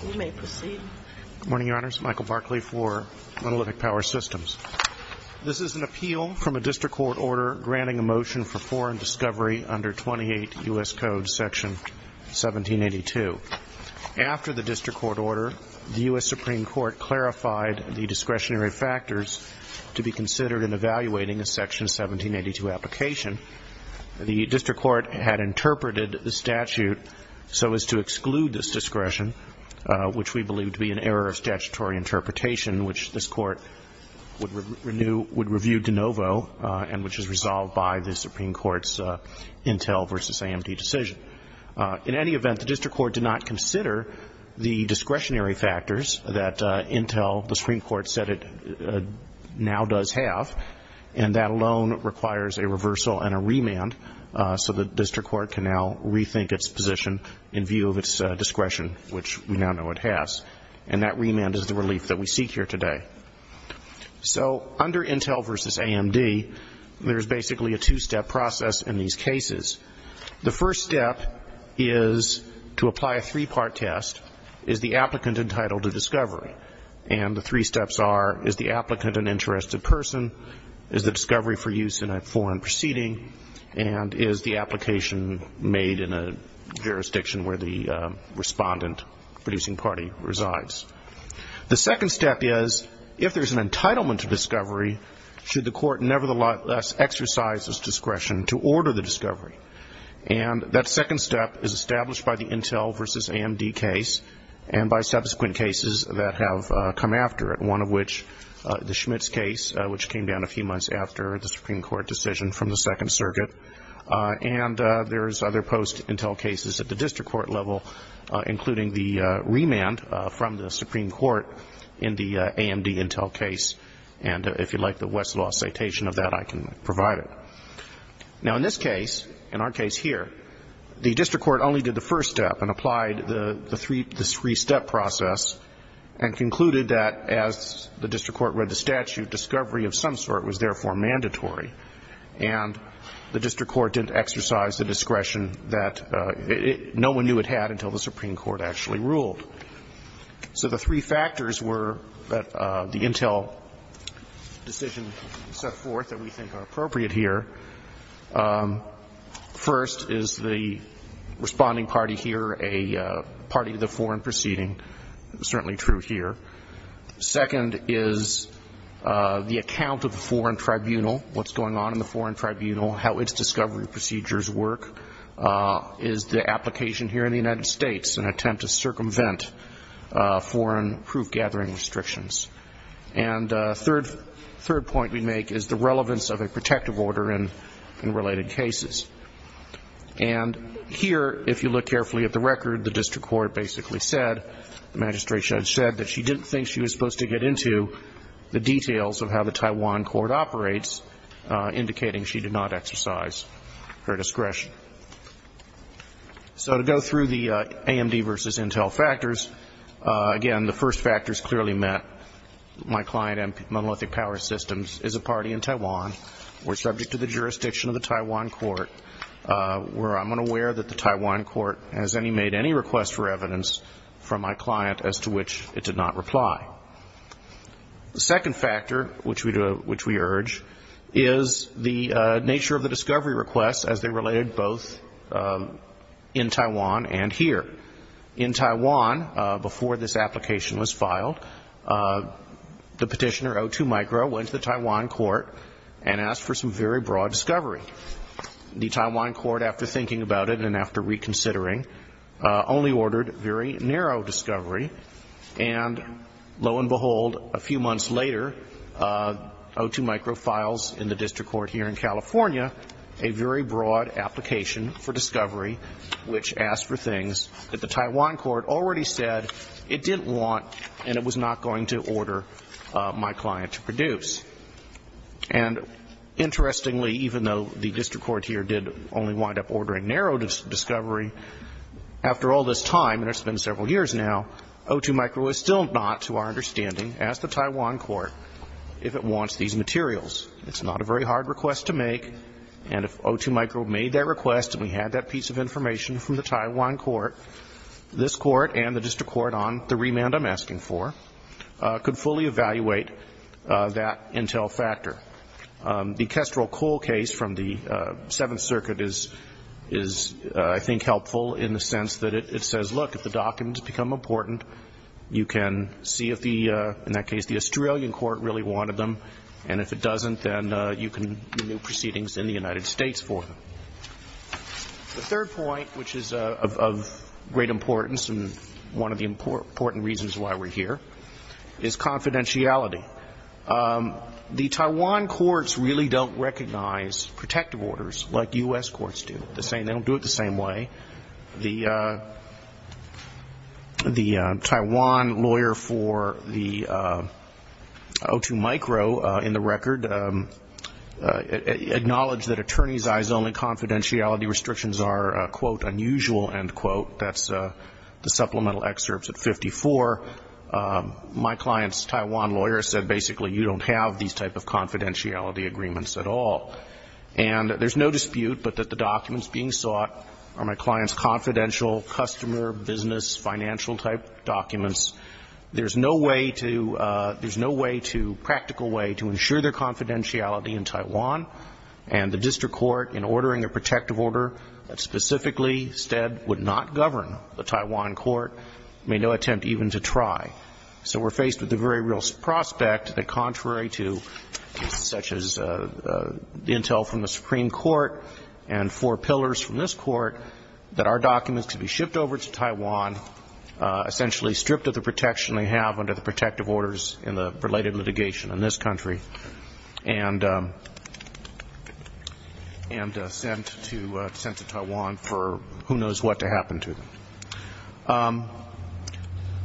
Good morning, Your Honors. Michael Barkley for Monolithic Power Systems. This is an appeal from a district court order granting a motion for foreign discovery under 28 U.S. Code Section 1782. After the district court order, the U.S. Supreme Court clarified the discretionary factors to be considered in evaluating a Section 1782 application. The district court had interpreted the statute so as to exclude this discretion, which we believe to be an error of statutory interpretation, which this court would review de novo and which is resolved by the Supreme Court's Intel v. AMD decision. In any event, the district court did not consider the discretionary factors that Intel, the Supreme Court said it now does have, and that alone requires a reversal and a remand so the district court can now rethink its position in view of its discretion, which we now know it has. And that remand is the relief that we seek here today. So under Intel v. AMD, there is basically a two-step process in these cases. The first step is to apply a three-part test, is the applicant entitled to discovery? And the three steps are, is the applicant an interested person? Is the discovery for use in a foreign proceeding? And is the application made in a jurisdiction where the respondent producing party resides? The second step is, if there's an entitlement to discovery, should the court nevertheless exercise its discretion to order the discovery? And that second step is established by the Intel v. AMD case and by subsequent cases that have come after it, one of which the Schmitz case, which came down a few months after the Supreme Court decision from the Second Circuit. And there's other post-Intel cases at the district court level, including the remand from the Supreme Court in the AMD Intel case. And if you'd like the Westlaw citation of that, I can provide it. Now, in this case, in our case here, the district court only did the first step and applied the three-step process and concluded that as the district court read the statute, discovery of some sort was therefore mandatory. And the district court didn't exercise the discretion that no one knew it had until the Supreme Court actually ruled. So the three factors were that the Intel decision set forth that we think are appropriate here. First is the responding party here a party to the foreign proceeding, certainly true here. Second is the account of the foreign tribunal, what's going on in the foreign tribunal, how its discovery procedures work. Is the application here in the United States an attempt to circumvent foreign proof-gathering restrictions? And a third point we make is the relevance of a protective order in related cases. And here, if you look carefully at the record, the district court basically said, the magistration had said that she didn't think she was supposed to get into the details of how the Taiwan court operates, indicating she did not exercise her discretion. So to go through the AMD versus Intel factors, again, the first factors clearly met. My client, Monolithic Power Systems, is a party in Taiwan. We're subject to the jurisdiction of the Taiwan court, where I'm unaware that the Taiwan court has made any request for evidence from my client as to which it did not reply. The second factor, which we urge, is the nature of the discovery request as they related both in Taiwan and here. In Taiwan, before this application was filed, the petitioner, O2Micro, went to the Taiwan court and asked for some very broad discovery. The Taiwan court, after thinking about it and after reconsidering, only ordered very narrow discovery. And lo and behold, a few months later, O2Micro files in the district court here in California a very broad application for discovery, which asked for things that the Taiwan court already said it didn't want and it was not going to order my client to produce. And interestingly, even though the district court here did only wind up ordering narrow discovery, after all this time, and it's been several years now, O2Micro is still not, to our understanding, as the Taiwan court, if it wants these materials. It's not a very hard request to make. And if O2Micro made that request and we had that piece of information from the Taiwan court, this court and the district court on the remand I'm asking for could fully evaluate that intel factor. The Kestrel Cole case from the Seventh Circuit is, I think, helpful in the sense that it says, look, if the documents become important, you can see if, in that case, the Australian court really wanted them, and if it doesn't, then you can renew proceedings in the United States for them. The third point, which is of great importance and one of the important reasons why we're here, is confidentiality. The Taiwan courts really don't recognize protective orders like U.S. courts do. They don't do it the same way. The Taiwan lawyer for the O2Micro, in the record, acknowledged that attorneys' eyes only confidentiality restrictions are, quote, unusual, end quote. That's the supplemental excerpts at 54. My client's Taiwan lawyer said, basically, you don't have these type of confidentiality agreements at all. And there's no dispute but that the documents being sought are my client's confidential customer, business, financial-type documents. There's no way to – there's no way to – practical way to ensure their confidentiality in Taiwan. And the district court, in ordering a protective order that specifically said would not govern the Taiwan court, made no attempt even to try. So we're faced with the very real prospect that contrary to such as the intel from the Supreme Court and four pillars from this court, that our documents could be shipped over to Taiwan, essentially stripped of the protection they have under the protective orders in the related litigation in this country, and sent to Taiwan for who knows what to happen to them.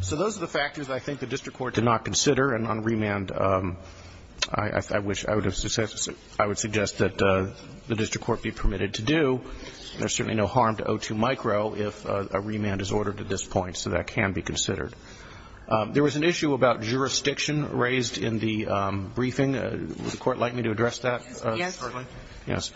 So those are the factors I think the district court did not consider. And on remand, I wish – I would suggest that the district court be permitted to do. There's certainly no harm to O2Micro if a remand is ordered at this point, so that can be considered. There was an issue about jurisdiction raised in the briefing. Would the Court like me to address that shortly? Yes. Yes.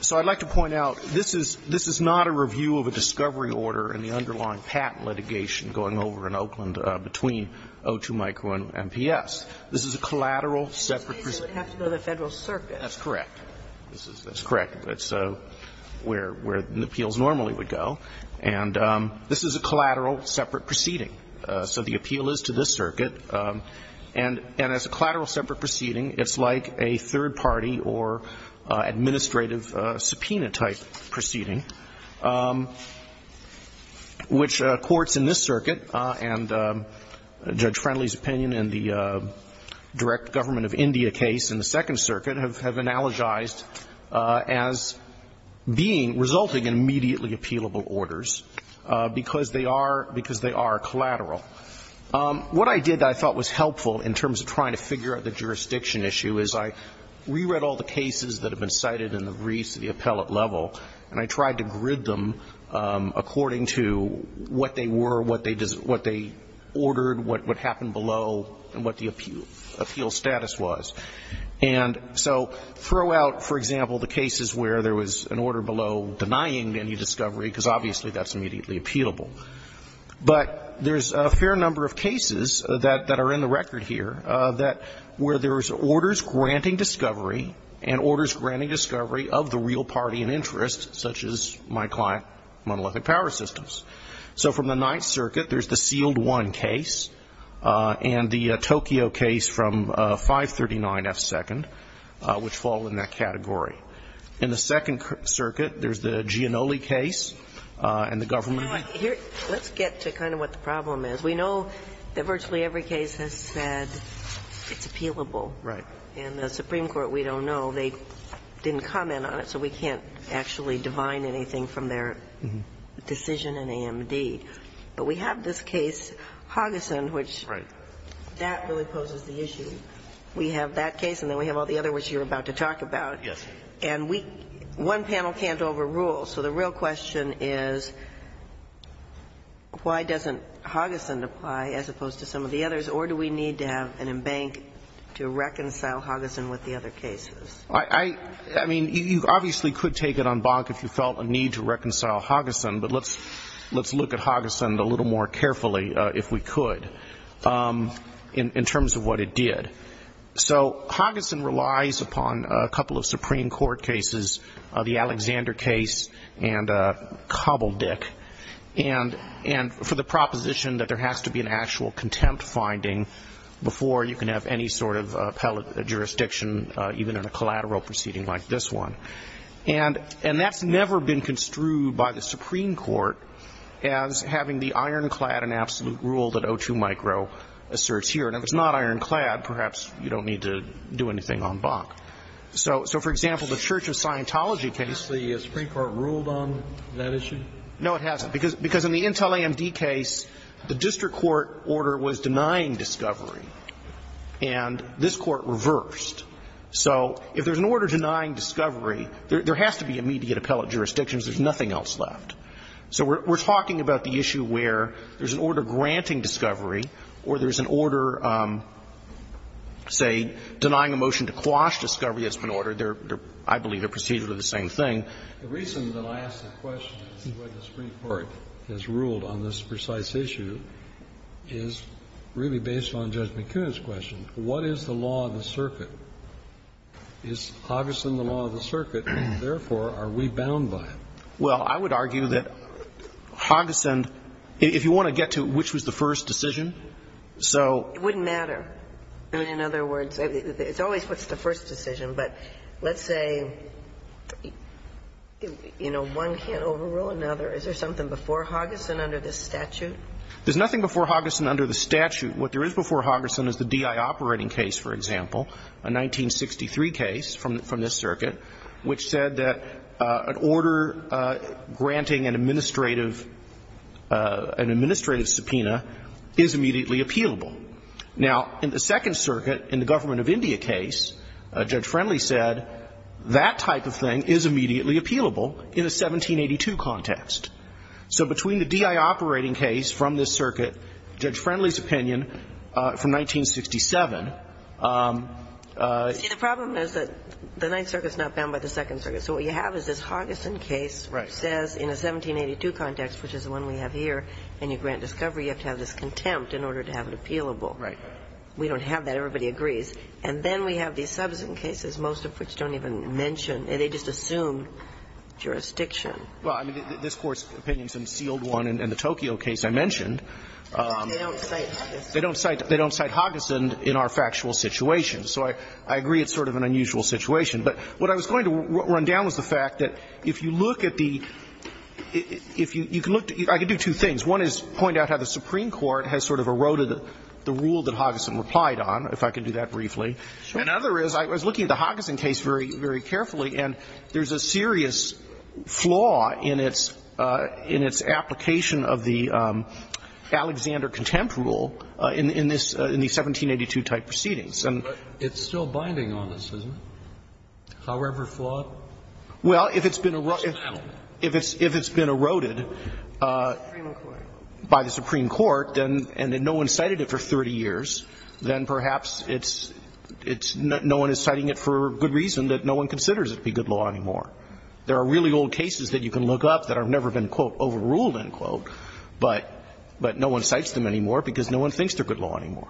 So I'd like to point out, this is – this is not a review of a discovery order in the underlying patent litigation going over in Oakland between O2Micro and MPS. This is a collateral separate proceeding. It would have to go to the Federal Circuit. That's correct. That's correct. That's where the appeals normally would go. So the appeal is to this circuit. And as a collateral separate proceeding, it's like a third party or administrative subpoena type proceeding, which courts in this circuit and Judge Friendly's opinion in the direct government of India case in the Second Circuit have analogized as being – resulting in immediately appealable orders, because they are – because they are collateral. What I did that I thought was helpful in terms of trying to figure out the jurisdiction issue is I re-read all the cases that have been cited in the briefs at the appellate level, and I tried to grid them according to what they were, what they ordered, what happened below, and what the appeal status was. And so throw out, for example, the cases where there was an order below denying any discovery, because obviously that's immediately appealable. But there's a fair number of cases that are in the record here that – where there was orders granting discovery and orders granting discovery of the real party in interest, such as my client, Monolithic Power Systems. So from the Ninth Circuit, there's the Sealed One case and the Tokyo case from 539F2nd, which fall in that category. In the Second Circuit, there's the Giannulli case and the government – Let's get to kind of what the problem is. We know that virtually every case has said it's appealable. Right. In the Supreme Court, we don't know. They didn't comment on it, so we can't actually divine anything from their decision in AMD. But we have this case, Hogason, which that really poses the issue. We have that case and then we have all the other ones you're about to talk about. Yes. And we – one panel can't overrule. So the real question is, why doesn't Hogason apply as opposed to some of the others, or do we need to have an embankment to reconcile Hogason with the other cases? I mean, you obviously could take it on bonk if you felt a need to reconcile Hogason, but let's look at Hogason a little more carefully, if we could, in terms of what it did. So Hogason relies upon a couple of Supreme Court cases, the Alexander case and Cobbledick, and for the proposition that there has to be an actual contempt finding before you can have any sort of appellate jurisdiction, even in a collateral proceeding like this one. And that's never been construed by the Supreme Court as having the ironclad and absolute rule that O2 Micro asserts here. And if it's not ironclad, perhaps you don't need to do anything on bonk. So, for example, the Church of Scientology case. Has the Supreme Court ruled on that issue? No, it hasn't. Because in the Intel AMD case, the district court order was denying discovery, and this Court reversed. So if there's an order denying discovery, there has to be immediate appellate jurisdictions. There's nothing else left. So we're talking about the issue where there's an order granting discovery or there's an order, say, denying a motion to quash discovery that's been ordered. I believe they're procedurally the same thing. The reason that I ask the question, this is why the Supreme Court has ruled on this precise issue, is really based on Judge McCoon's question. What is the law of the circuit? Is Hogason the law of the circuit, and therefore are we bound by it? Well, I would argue that Hogason – if you want to get to which was the first decision, so – It wouldn't matter. I mean, in other words, it's always what's the first decision. But let's say, you know, one can't overrule another. Is there something before Hogason under this statute? There's nothing before Hogason under the statute. What there is before Hogason is the DI operating case, for example, a 1963 case from this circuit, which said that an order granting an administrative – an administrative subpoena is immediately appealable. Now, in the Second Circuit, in the Government of India case, Judge Friendly said that type of thing is immediately appealable in a 1782 context. So between the DI operating case from this circuit, Judge Friendly's opinion from 1967 – The Ninth Circuit is not bound by the Second Circuit. So what you have is this Hogason case, which says in a 1782 context, which is the one we have here, and you grant discovery, you have to have this contempt in order to have it appealable. Right. We don't have that. Everybody agrees. And then we have these subsequent cases, most of which don't even mention – they just assume jurisdiction. Well, I mean, this Court's opinion is an unsealed one, and the Tokyo case I mentioned. They don't cite Hogason. They don't cite Hogason in our factual situation. So I agree it's sort of an unusual situation. But what I was going to run down was the fact that if you look at the – if you can look – I could do two things. One is point out how the Supreme Court has sort of eroded the rule that Hogason replied on, if I could do that briefly. Sure. Another is I was looking at the Hogason case very, very carefully, and there's a serious flaw in its application of the Alexander contempt rule in the 1782 type proceedings. But it's still binding on this, isn't it? However flawed? Well, if it's been – if it's been eroded by the Supreme Court and then no one's cited it for 30 years, then perhaps it's – no one is citing it for a good reason that no one considers it to be good law anymore. There are really old cases that you can look up that have never been, quote, overruled, end quote, but no one cites them anymore because no one thinks they're good law anymore.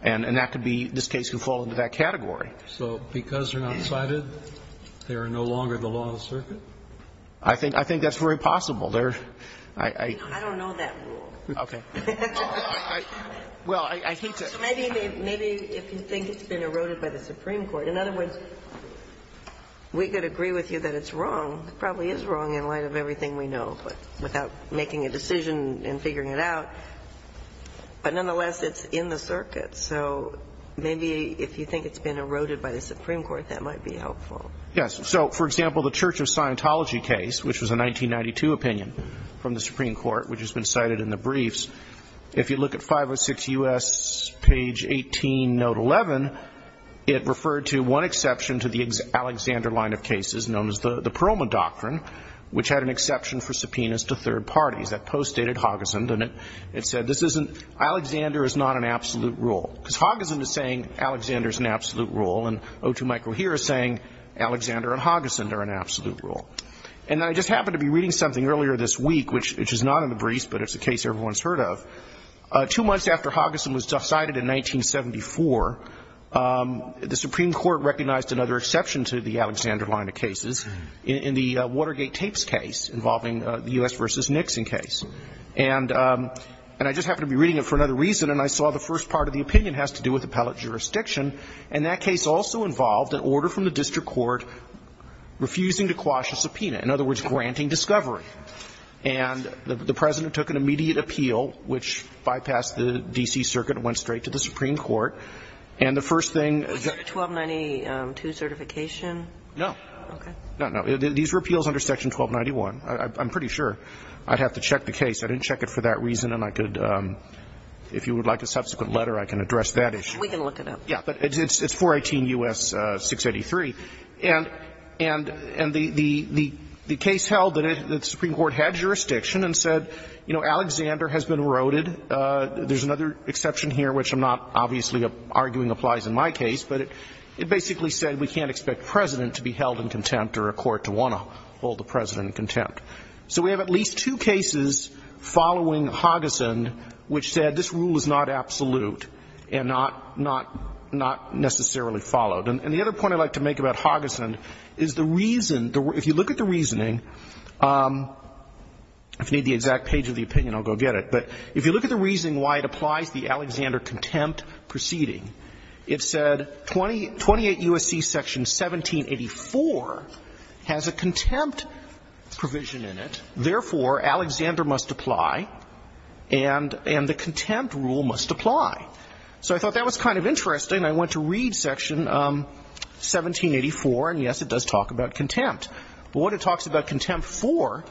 And that could be this case could fall into that category. So because they're not cited, they are no longer the law of the circuit? I think – I think that's very possible. They're – I – I don't know that rule. Okay. Well, I hate to – So maybe – maybe if you think it's been eroded by the Supreme Court, in other words, we could agree with you that it's wrong, probably is wrong in light of everything we know, but without making a decision and figuring it out. But nonetheless, it's in the circuit. So maybe if you think it's been eroded by the Supreme Court, that might be helpful. Yes. So, for example, the Church of Scientology case, which was a 1992 opinion from the Supreme Court, which has been cited in the briefs, if you look at 506 U.S. page 18, note 11, it referred to one exception to the Alexander line of cases known as the Chroma Doctrine, which had an exception for subpoenas to third parties. That post-stated Haugesund, and it – it said this isn't – Alexander is not an absolute rule. Because Haugesund is saying Alexander is an absolute rule, and O2 Michael here is saying Alexander and Haugesund are an absolute rule. And I just happened to be reading something earlier this week, which is not in the briefs, but it's a case everyone's heard of. Two months after Haugesund was cited in 1974, the Supreme Court recognized another exception to the Alexander line of cases in the Watergate tapes case involving the U.S. v. Nixon case. And I just happened to be reading it for another reason, and I saw the first part of the opinion has to do with appellate jurisdiction. And that case also involved an order from the district court refusing to quash a subpoena, in other words, granting discovery. And the President took an immediate appeal, which bypassed the D.C. Circuit and went straight to the Supreme Court. And the first thing – 1292 certification? No. Okay. No, no. These were appeals under Section 1291. I'm pretty sure. I'd have to check the case. I didn't check it for that reason. And I could, if you would like a subsequent letter, I can address that issue. We can look it up. Yeah. But it's 418 U.S. 683. And the case held that the Supreme Court had jurisdiction and said, you know, Alexander has been eroded. There's another exception here, which I'm not obviously arguing applies in my case, but it basically said we can't expect President to be held in contempt or a court to want to hold the President in contempt. So we have at least two cases following Hogason which said this rule is not absolute and not necessarily followed. And the other point I'd like to make about Hogason is the reason – if you look at the reasoning – if you need the exact page of the opinion, I'll go get it. But if you look at the reason why it applies the Alexander contempt proceeding, it said 28 U.S.C. Section 1784 has a contempt provision in it. Therefore, Alexander must apply and the contempt rule must apply. So I thought that was kind of interesting. I went to read Section 1784, and, yes, it does talk about contempt. But what it talks about contempt for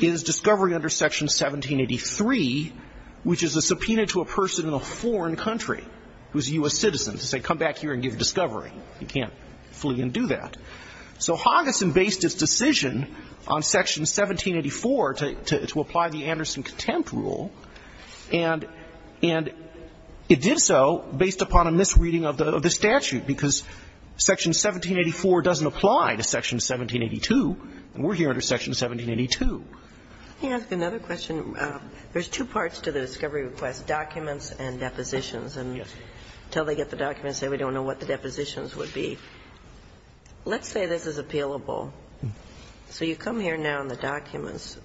is discovery under Section 1783, which is a subpoena to a person in a foreign country who is a U.S. citizen, to say, come back here and give discovery. You can't flee and do that. So Hogason based its decision on Section 1784 to apply the Anderson contempt rule, and it did so based upon a misreading of the statute, because Section 1784 doesn't apply to Section 1782, and we're here under Section 1782. Can I ask another question? There's two parts to the discovery request, documents and depositions. And until they get the documents, they don't know what the depositions would be. Let's say this is appealable. So you come here now and the documents.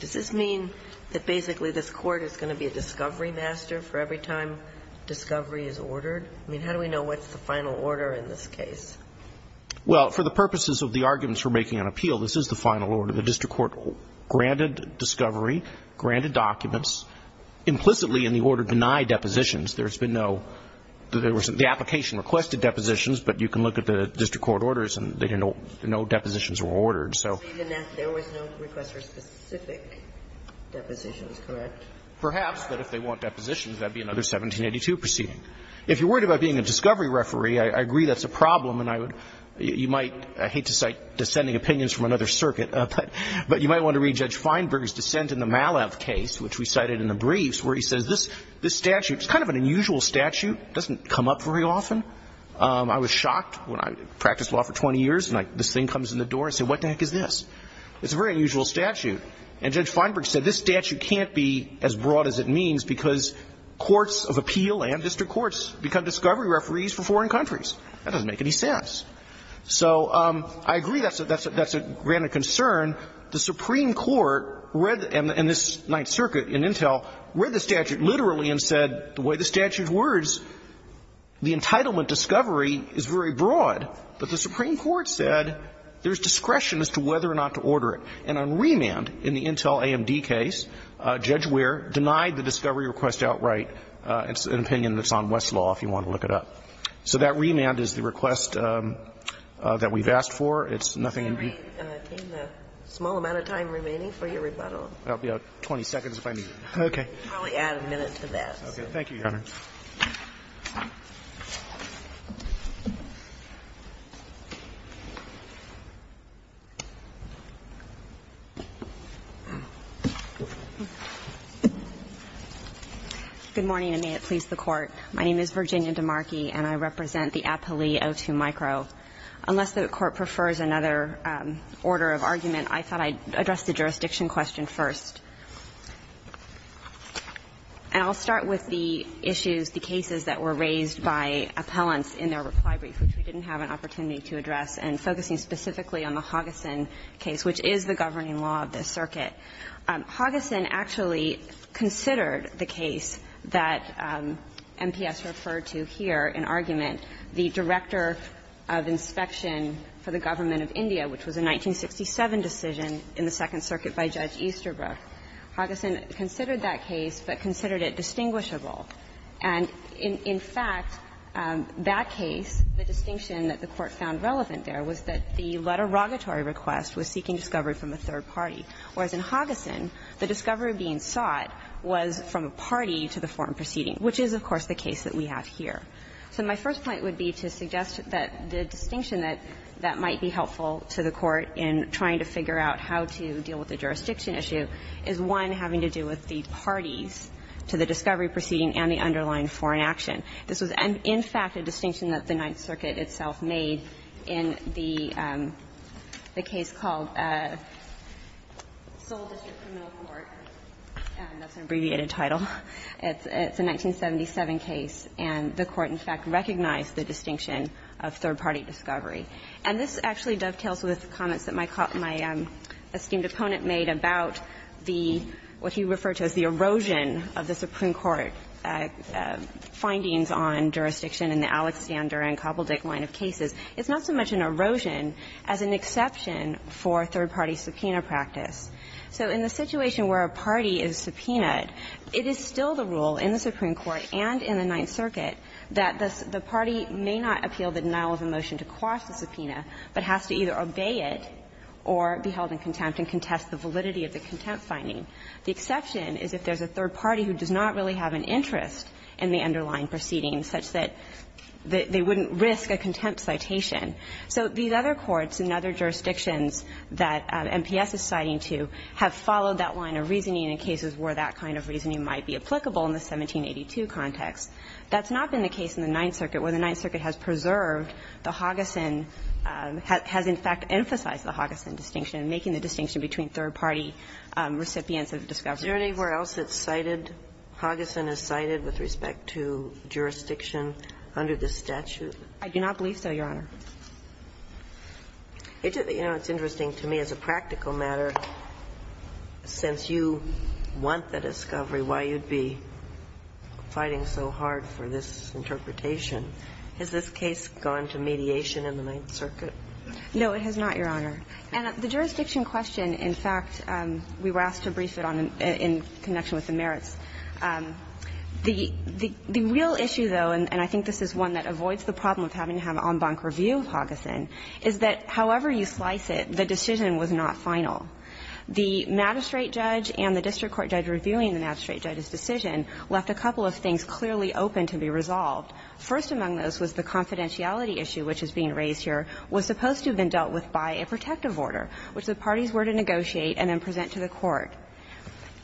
Does this mean that basically this Court is going to be a discovery master for every time discovery is ordered? I mean, how do we know what's the final order in this case? Well, for the purposes of the arguments for making an appeal, this is the final order. The district court granted discovery, granted documents. Implicitly in the order denied depositions, there's been no – there was – the application requested depositions, but you can look at the district court orders and they didn't know – no depositions were ordered. So – There was no request for specific depositions, correct? Perhaps, but if they want depositions, that would be another 1782 proceeding. If you're worried about being a discovery referee, I agree that's a problem, and I would – you might – I hate to cite dissenting opinions from another circuit, but you might want to read Judge Feinberg's dissent in the Malev case, which we cited in the briefs, where he says this statute – it's kind of an unusual statute. It doesn't come up very often. I was shocked when I practiced law for 20 years and this thing comes in the door and I said, what the heck is this? It's a very unusual statute. And Judge Feinberg said this statute can't be as broad as it means because courts of appeal and district courts become discovery referees for foreign countries. That doesn't make any sense. So I agree that's a – that's a granted concern. The Supreme Court read – and this Ninth Circuit in Intel read the statute literally and said the way the statute words, the entitlement discovery is very broad. But the Supreme Court said there's discretion as to whether or not to order it. And on remand in the Intel AMD case, Judge Ware denied the discovery request outright. It's an opinion that's on Westlaw, if you want to look it up. So that remand is the request that we've asked for. It's nothing in view of the statute. Ginsburg. Can we retain the small amount of time remaining for your rebuttal? I'll be out 20 seconds if I need it. Okay. I'll probably add a minute to that. Thank you, Your Honor. Good morning, and may it please the Court. My name is Virginia DeMarchi, and I represent the appellee O2 micro. Unless the Court prefers another order of argument, I thought I'd address the jurisdiction question first. And I'll start with the issues, the cases that were raised by appellants in their reply brief, which we didn't have an opportunity to address, and focusing specifically on the Hogason case, which is the governing law of this circuit. Hogason actually considered the case that MPS referred to here in argument, the Director of Inspection for the Government of India, which was a 1967 decision in the Second Circuit by Judge Easterbrook. Hogason considered that case, but considered it distinguishable. And in fact, that case, the distinction that the Court found relevant there was that the letter of rogatory request was seeking discovery from a third party, whereas in Hogason, the discovery being sought was from a party to the foreign proceeding, which is, of course, the case that we have here. So my first point would be to suggest that the distinction that might be helpful to the Court in trying to figure out how to deal with the jurisdiction issue is, one, having to do with the parties to the discovery proceeding and the underlying foreign action. This was, in fact, a distinction that the Ninth Circuit itself made in the case called Sol District Criminal Court, and that's an abbreviated title. It's a 1977 case, and the Court, in fact, recognized the distinction of third party discovery. And this actually dovetails with comments that my esteemed opponent made about the what he referred to as the erosion of the Supreme Court findings on jurisdiction in the Alexander and Kobeldich line of cases. It's not so much an erosion as an exception for third party subpoena practice. So in the situation where a party is subpoenaed, it is still the rule in the Supreme Court and in the Ninth Circuit that the party may not appeal the denial of a motion to quash the subpoena, but has to either obey it or be held in contempt and contest the validity of the contempt finding. The exception is if there's a third party who does not really have an interest in the underlying proceedings such that they wouldn't risk a contempt citation. So these other courts in other jurisdictions that MPS is citing to have followed that line of reasoning in cases where that kind of reasoning might be applicable in the 1782 context. That's not been the case in the Ninth Circuit, where the Ninth Circuit has preserved the Hoggison, has in fact emphasized the Hoggison distinction, making the distinction between third party recipients of the discoveries. Kagan Are there anywhere else it's cited, Hoggison is cited with respect to jurisdiction under the statute? Sherry I do not believe so, Your Honor. Kagan It's interesting to me as a practical matter, since you want the discovery why you'd be fighting so hard for this interpretation, has this case gone to the Supreme Court, has it gone to mediation in the Ninth Circuit? Sherry No, it has not, Your Honor. And the jurisdiction question, in fact, we were asked to brief it on in connection with the merits. The real issue, though, and I think this is one that avoids the problem of having to have an en banc review of Hoggison, is that however you slice it, the decision was not final. The magistrate judge and the district court judge reviewing the magistrate judge's decision left a couple of things clearly open to be resolved. First among those was the confidentiality issue which is being raised here was supposed to have been dealt with by a protective order, which the parties were to negotiate and then present to the court.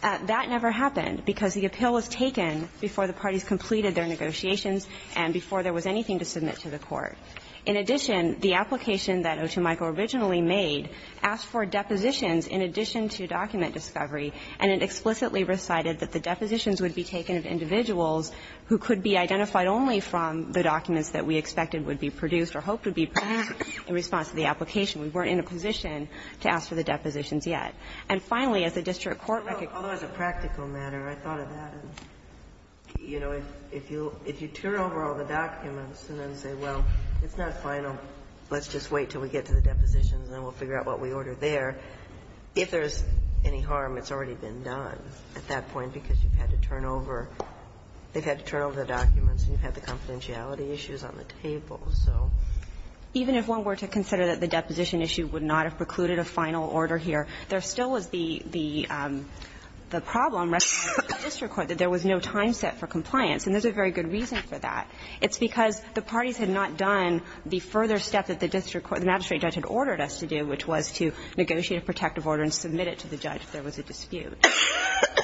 That never happened because the appeal was taken before the parties completed their negotiations and before there was anything to submit to the court. In addition, the application that Otemaiko originally made asked for depositions in addition to document discovery, and it explicitly recited that the depositions would be taken of individuals who could be identified only from the documents that we expected would be produced or hoped would be produced in response to the application. We weren't in a position to ask for the depositions yet. And finally, as the district court recognized that there was a practical matter, I thought of that. You know, if you turn over all the documents and then say, well, it's not final, let's just wait until we get to the depositions and then we'll figure out what we ordered there, if there's any harm, it's already been done at that point because you've had to turn over the documents and you've had the confidentiality issues on the table. So even if one were to consider that the deposition issue would not have precluded a final order here, there still was the problem recognized by the district court that there was no time set for compliance, and there's a very good reason for that. It's because the parties had not done the further step that the district court magistrate judge had ordered us to do, which was to negotiate a protective order and submit it to the judge if there was a dispute. So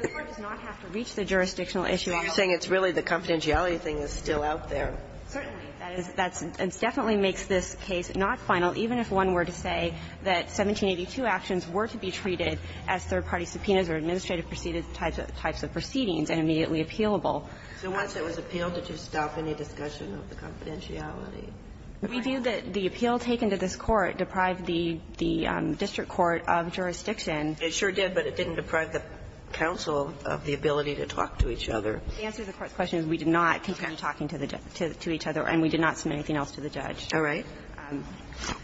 this Court does not have to reach the jurisdictional issue at all. Kagan So you're saying it's really the confidentiality thing is still out there. Certainly. That is that's and definitely makes this case not final, even if one were to say that 1782 actions were to be treated as third-party subpoenas or administrative proceedings and immediately appealable. So once it was appealed, did you stop any discussion of the confidentiality? We view that the appeal taken to this Court deprived the district court of jurisdiction. It sure did, but it didn't deprive the counsel of the ability to talk to each other. The answer to the Court's question is we did not contend talking to each other, and we did not submit anything else to the judge. All right.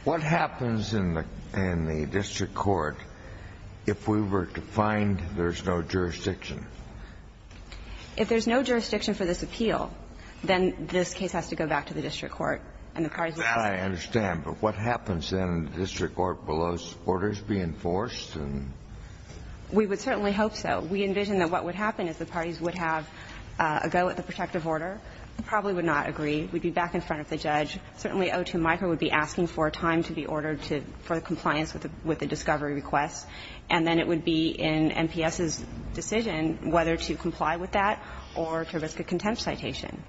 What happens in the district court if we were to find there's no jurisdiction? If there's no jurisdiction for this appeal, then this case has to go back to the district court and the parties would have to go back. I understand. But what happens then in the district court? Will those orders be enforced? We would certainly hope so. We envision that what would happen is the parties would have a go at the protective order, probably would not agree, would be back in front of the judge. Certainly O2 micro would be asking for a time to be ordered for compliance with the discovery request, and then it would be in MPS's decision whether to comply with that or to risk a contempt citation.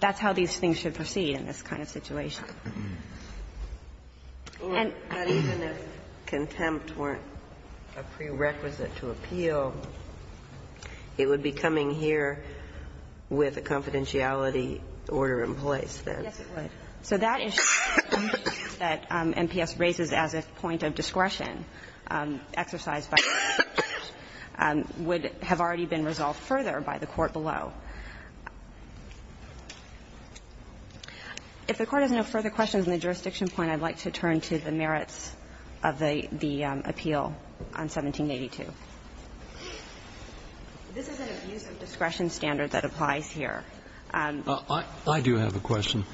That's how these things should proceed in this kind of situation. And even if contempt weren't a prerequisite to appeal, it would be coming here with a confidentiality order in place, then? Yes, it would. So that issue that MPS raises as a point of discretion exercised by the district court would have already been resolved further by the court below. If the Court has no further questions on the jurisdiction point, I'd like to turn to the merits of the appeal on 1782. This is an abuse of discretion standard that applies here. I do have a question.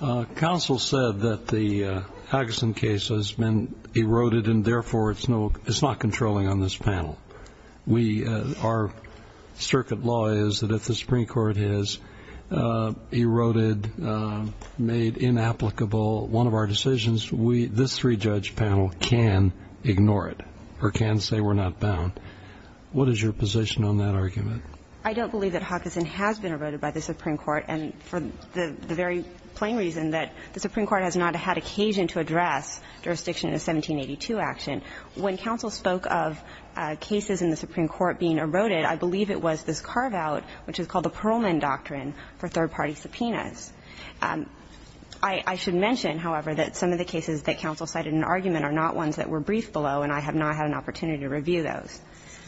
Counsel said that the Huggison case has been eroded and therefore it's not controlling on this panel. Our circuit law is that if the Supreme Court has eroded, made inapplicable one of our decisions, this three-judge panel can ignore it or can say we're not bound. What is your position on that argument? I don't believe that Huggison has been eroded by the Supreme Court, and for the very plain reason that the Supreme Court has not had occasion to address jurisdiction in a 1782 action. When counsel spoke of cases in the Supreme Court being eroded, I believe it was this carve-out, which is called the Pearlman Doctrine for third-party subpoenas. I should mention, however, that some of the cases that counsel cited in the argument are not ones that were briefed below, and I have not had an opportunity to review those.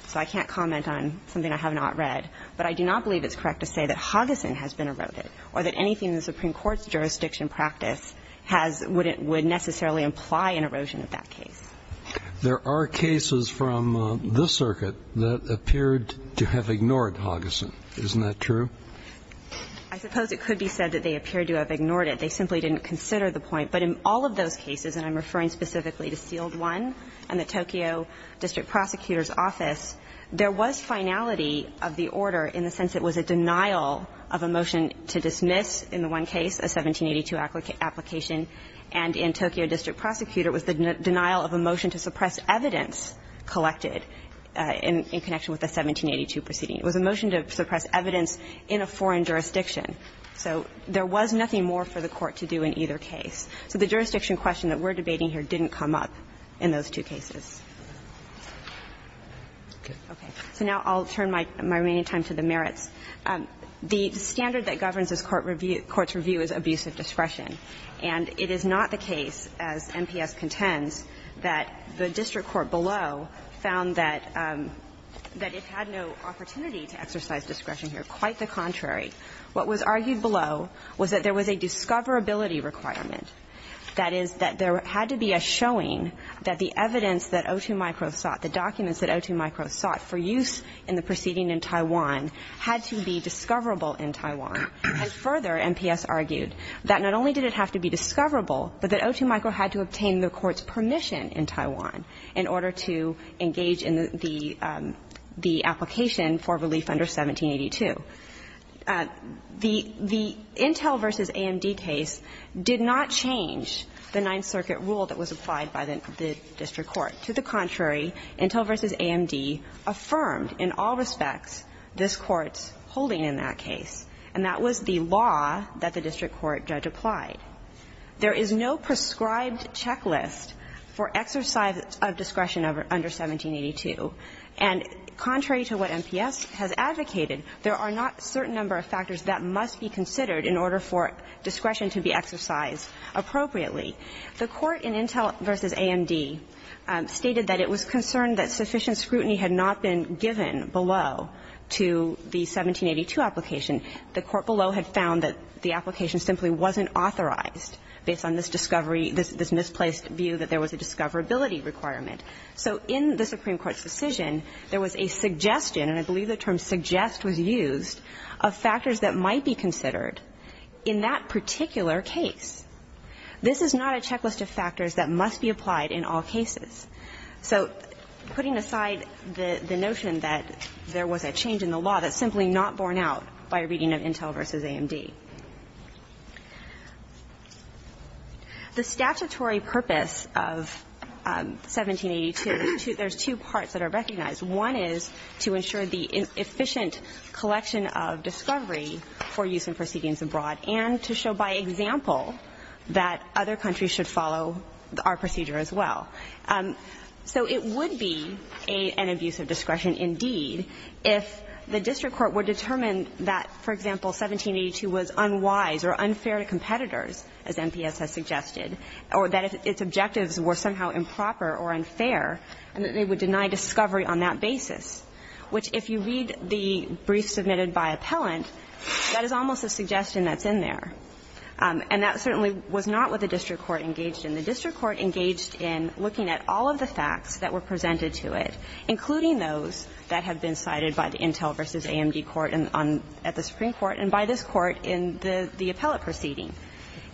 So I can't comment on something I have not read. But I do not believe it's correct to say that Huggison has been eroded or that anything in the Supreme Court's jurisdiction practice has or would necessarily imply an erosion of that case. There are cases from the circuit that appeared to have ignored Huggison. Isn't that true? I suppose it could be said that they appeared to have ignored it. They simply didn't consider the point. But in all of those cases, and I'm referring specifically to S.E.A.L.D. 1 and the Tokyo District Prosecutor's Office, there was finality of the order in the sense it was a denial of a motion to dismiss in the one case, a 1782 application, and in Tokyo District Prosecutor was the denial of a motion to suppress evidence collected in connection with the 1782 proceeding. It was a motion to suppress evidence in a foreign jurisdiction. So there was nothing more for the Court to do in either case. So the jurisdiction question that we're debating here didn't come up in those two cases. Okay. So now I'll turn my remaining time to the merits. The standard that governs this Court's review is abuse of discretion. And it is not the case, as MPS contends, that the district court below found that it had no opportunity to exercise discretion here. Quite the contrary. What was argued below was that there was a discoverability requirement. That is, that there had to be a showing that the evidence that O2micro sought, the documents that O2micro sought for use in the proceeding in Taiwan had to be discoverable in Taiwan. And further, MPS argued that not only did it have to be discoverable, but that O2micro had to obtain the Court's permission in Taiwan in order to engage in the application for relief under 1782. The Intel v. AMD case did not change the Ninth Circuit rule that was applied by the district court. To the contrary, Intel v. AMD affirmed in all respects this Court's holding in that case, and that was the law that the district court judge applied. There is no prescribed checklist for exercise of discretion under 1782. And contrary to what MPS has advocated, there are not a certain number of factors that must be considered in order for discretion to be exercised appropriately. The Court in Intel v. AMD stated that it was concerned that sufficient scrutiny had not been given below to the 1782 application. The Court below had found that the application simply wasn't authorized based on this discovery, this misplaced view that there was a discoverability requirement. So in the Supreme Court's decision, there was a suggestion, and I believe the term suggest was used, of factors that might be considered in that particular case. This is not a checklist of factors that must be applied in all cases. So putting aside the notion that there was a change in the law that's simply not borne out by a reading of Intel v. AMD. The statutory purpose of 1782, there's two parts that are recognized. One is to ensure the efficient collection of discovery for use in proceedings abroad, and to show by example that other countries should follow our procedure as well. So it would be an abuse of discretion indeed if the district court would determine that, for example, 1782 was unwise or unfair to competitors, as MPS has suggested, or that its objectives were somehow improper or unfair, and that they would deny discovery on that basis, which if you read the brief submitted by appellant, that is almost a suggestion that's in there. And that certainly was not what the district court engaged in. The district court engaged in looking at all of the facts that were presented to it, including those that have been cited by the Intel v. AMD court at the Supreme Court and by this court in the appellate proceeding.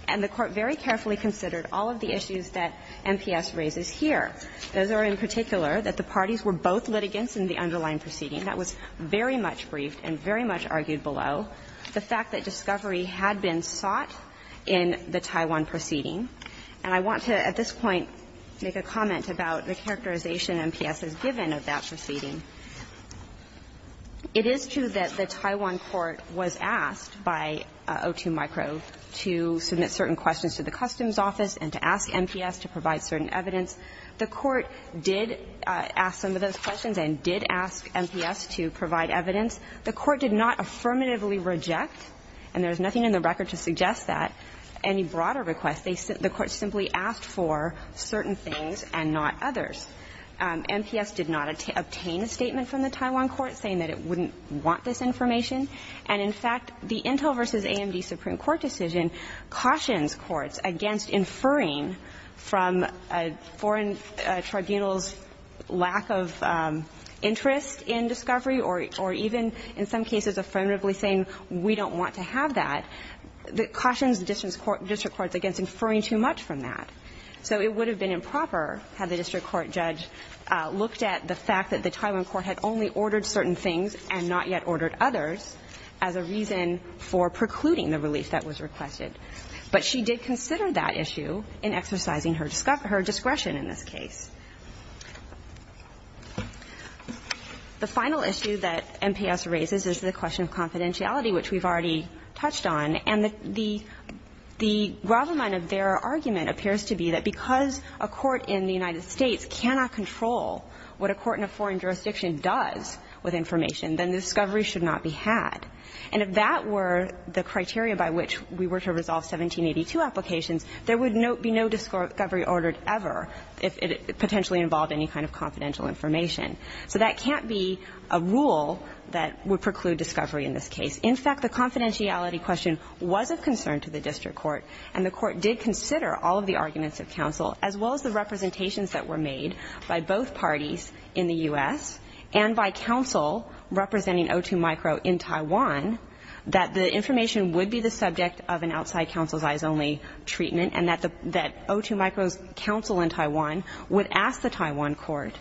And the court very carefully considered all of the issues that MPS raises here. Those are in particular that the parties were both litigants in the underlying proceeding. That was very much briefed and very much argued below. The fact that discovery had been sought in the Taiwan proceeding. And I want to, at this point, make a comment about the characterization MPS has given of that proceeding. It is true that the Taiwan court was asked by O2Micro to submit certain questions to the Customs Office and to ask MPS to provide certain evidence. The court did ask some of those questions and did ask MPS to provide evidence. The court did not affirmatively reject, and there's nothing in the record to suggest that, any broader request. The court simply asked for certain things and not others. MPS did not obtain a statement from the Taiwan court saying that it wouldn't want this information. And in fact, the Intel v. AMD Supreme Court decision cautions courts against inferring from a foreign tribunal's lack of interest in discovery or even in some cases affirmatively saying we don't want to have that. It cautions the district courts against inferring too much from that. So it would have been improper had the district court judge looked at the fact that the Taiwan court had only ordered certain things and not yet ordered others as a reason for precluding the relief that was requested. But she did consider that issue in exercising her discretion in this case. The final issue that MPS raises is the question of confidentiality, which we've already touched on. And the gravel line of their argument appears to be that because a court in the United States cannot control what a court in a foreign jurisdiction does with information, then discovery should not be had. And if that were the criteria by which we were to resolve 1782 applications, there would be no discovery ordered ever if it potentially involved any kind of confidential information. So that can't be a rule that would preclude discovery in this case. In fact, the confidentiality question was of concern to the district court, and the court did consider all of the arguments of counsel, as well as the representations that were made by both parties in the U.S. and by counsel representing O2 Micro in Taiwan, that the information would be the subject of an outside counsel's eyes only treatment, and that O2 Micro's counsel in Taiwan would ask the Taiwan court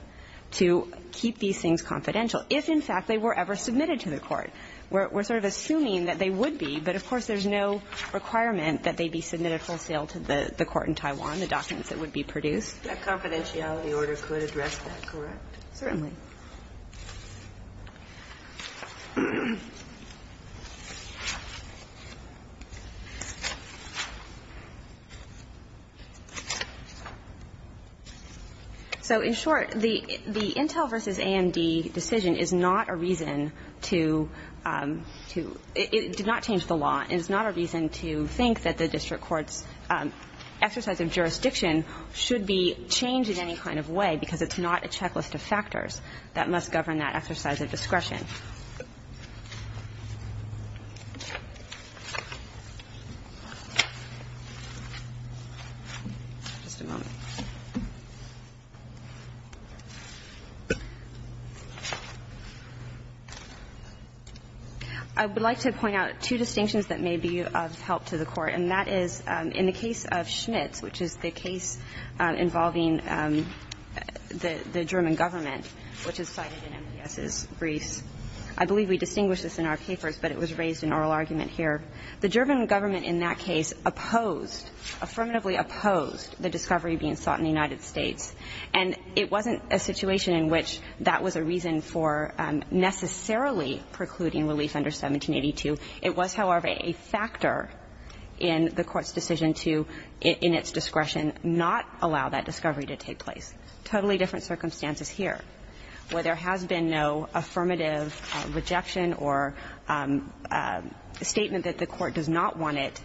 to keep these things confidential, if in fact they were ever submitted to the court. And we're sort of assuming that they would be, but of course there's no requirement that they be submitted wholesale to the court in Taiwan, the documents that would be produced. That confidentiality order could address that, correct? Certainly. So in short, the intel versus AMD decision is not a reason to have a court in Taiwan to do not change the law, and is not a reason to think that the district court's exercise of jurisdiction should be changed in any kind of way, because it's not a checklist of factors that must govern that exercise of discretion. Just a moment. I would like to point out two distinctions that may be of help to the Court, and that is in the case of Schmitz, which is the case involving the German government, which is cited in MPS's briefs. I believe we distinguished this in our papers, but it was raised in oral argument here. The German government in that case opposed, affirmatively opposed, the discovery being sought in the United States. And it wasn't a situation in which that was a reason for necessarily precluding relief under 1782. It was, however, a factor in the Court's decision to, in its discretion, not allow that discovery to take place. Totally different circumstances here, where there has been no affirmative rejection or statement that the Court does not want it,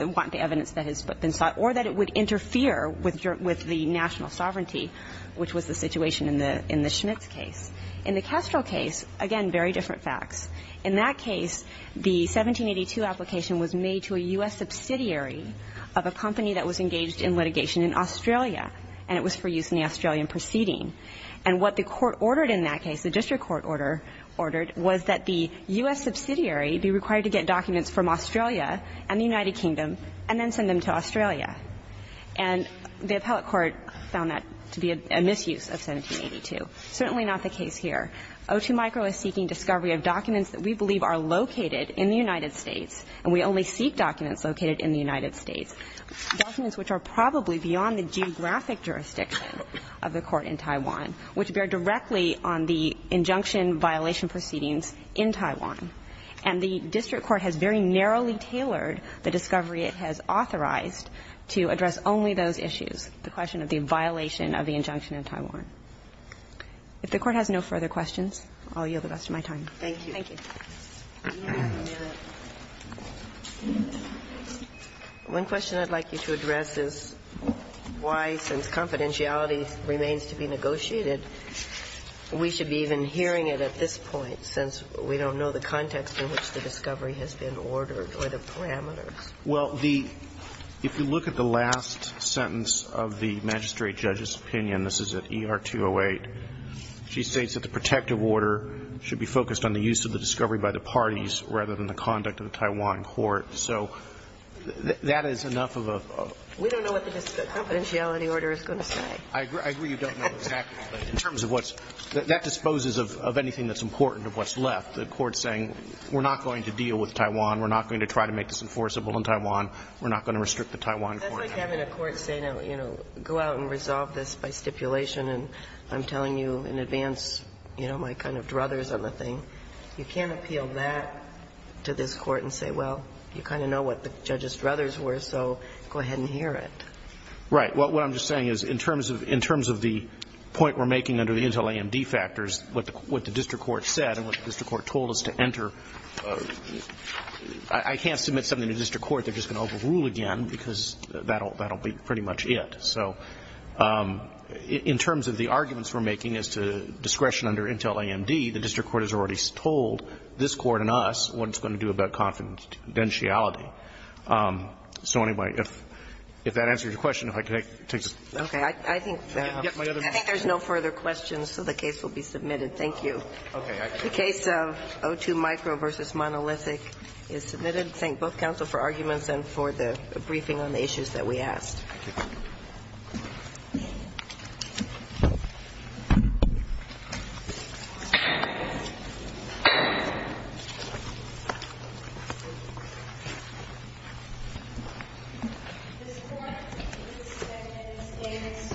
want the evidence that has been sought, or that it would interfere with the national sovereignty, which was the situation in the Schmitz case. In the Kestrel case, again, very different facts. In that case, the 1782 application was made to a U.S. subsidiary of a company that was engaged in litigation in Australia, and it was for use in the Australian proceeding. And what the Court ordered in that case, the district court order, ordered was that the U.S. subsidiary be required to get documents from Australia and the United Kingdom and then send them to Australia. And the appellate court found that to be a misuse of 1782. Certainly not the case here. O2Micro is seeking discovery of documents that we believe are located in the United States, and we only seek documents located in the United States, documents which are probably beyond the geographic jurisdiction of the Court in Taiwan, which bear directly on the injunction violation proceedings in Taiwan. And the district court has very narrowly tailored the discovery it has authorized to address only those issues, the question of the violation of the injunction in Taiwan. If the Court has no further questions, I'll yield the rest of my time. Thank you. Thank you. One question I'd like you to address is why, since confidentiality remains to be negotiated, we should be even hearing it at this point, since we don't know the context in which the discovery has been ordered or the parameters. Well, the – if you look at the last sentence of the magistrate judge's opinion – this is at ER 208 – she states that the protective order should be focused on the use of the discovery by the parties rather than the conduct of the Taiwan court. So that is enough of a… We don't know what the confidentiality order is going to say. I agree you don't know exactly, but in terms of what's – that disposes of anything that's important of what's left. The Court's saying we're not going to deal with Taiwan, we're not going to try to make this enforceable in Taiwan, we're not going to restrict the Taiwan court. That's like having a court say, you know, go out and resolve this by stipulation and I'm telling you in advance, you know, my kind of druthers on the thing. You can't appeal that to this court and say, well, you kind of know what the judge's druthers were, so go ahead and hear it. Right. What I'm just saying is in terms of – in terms of the point we're making under the Intel AMD factors, what the district court said and what the district court told us to enter, I can't submit something to district court, they're just going to overrule again because that'll – that'll be pretty much it. So in terms of the arguments we're making as to discretion under Intel AMD, the district court has already told this court and us what it's going to do about confidentiality. So anyway, if that answers your question, if I could take this. Okay. I think – I think there's no further questions, so the case will be submitted. Thank you. Okay. The case of O2 Micro v. Monolithic is submitted. I should thank both counsel for arguments and for the briefing on the issues that we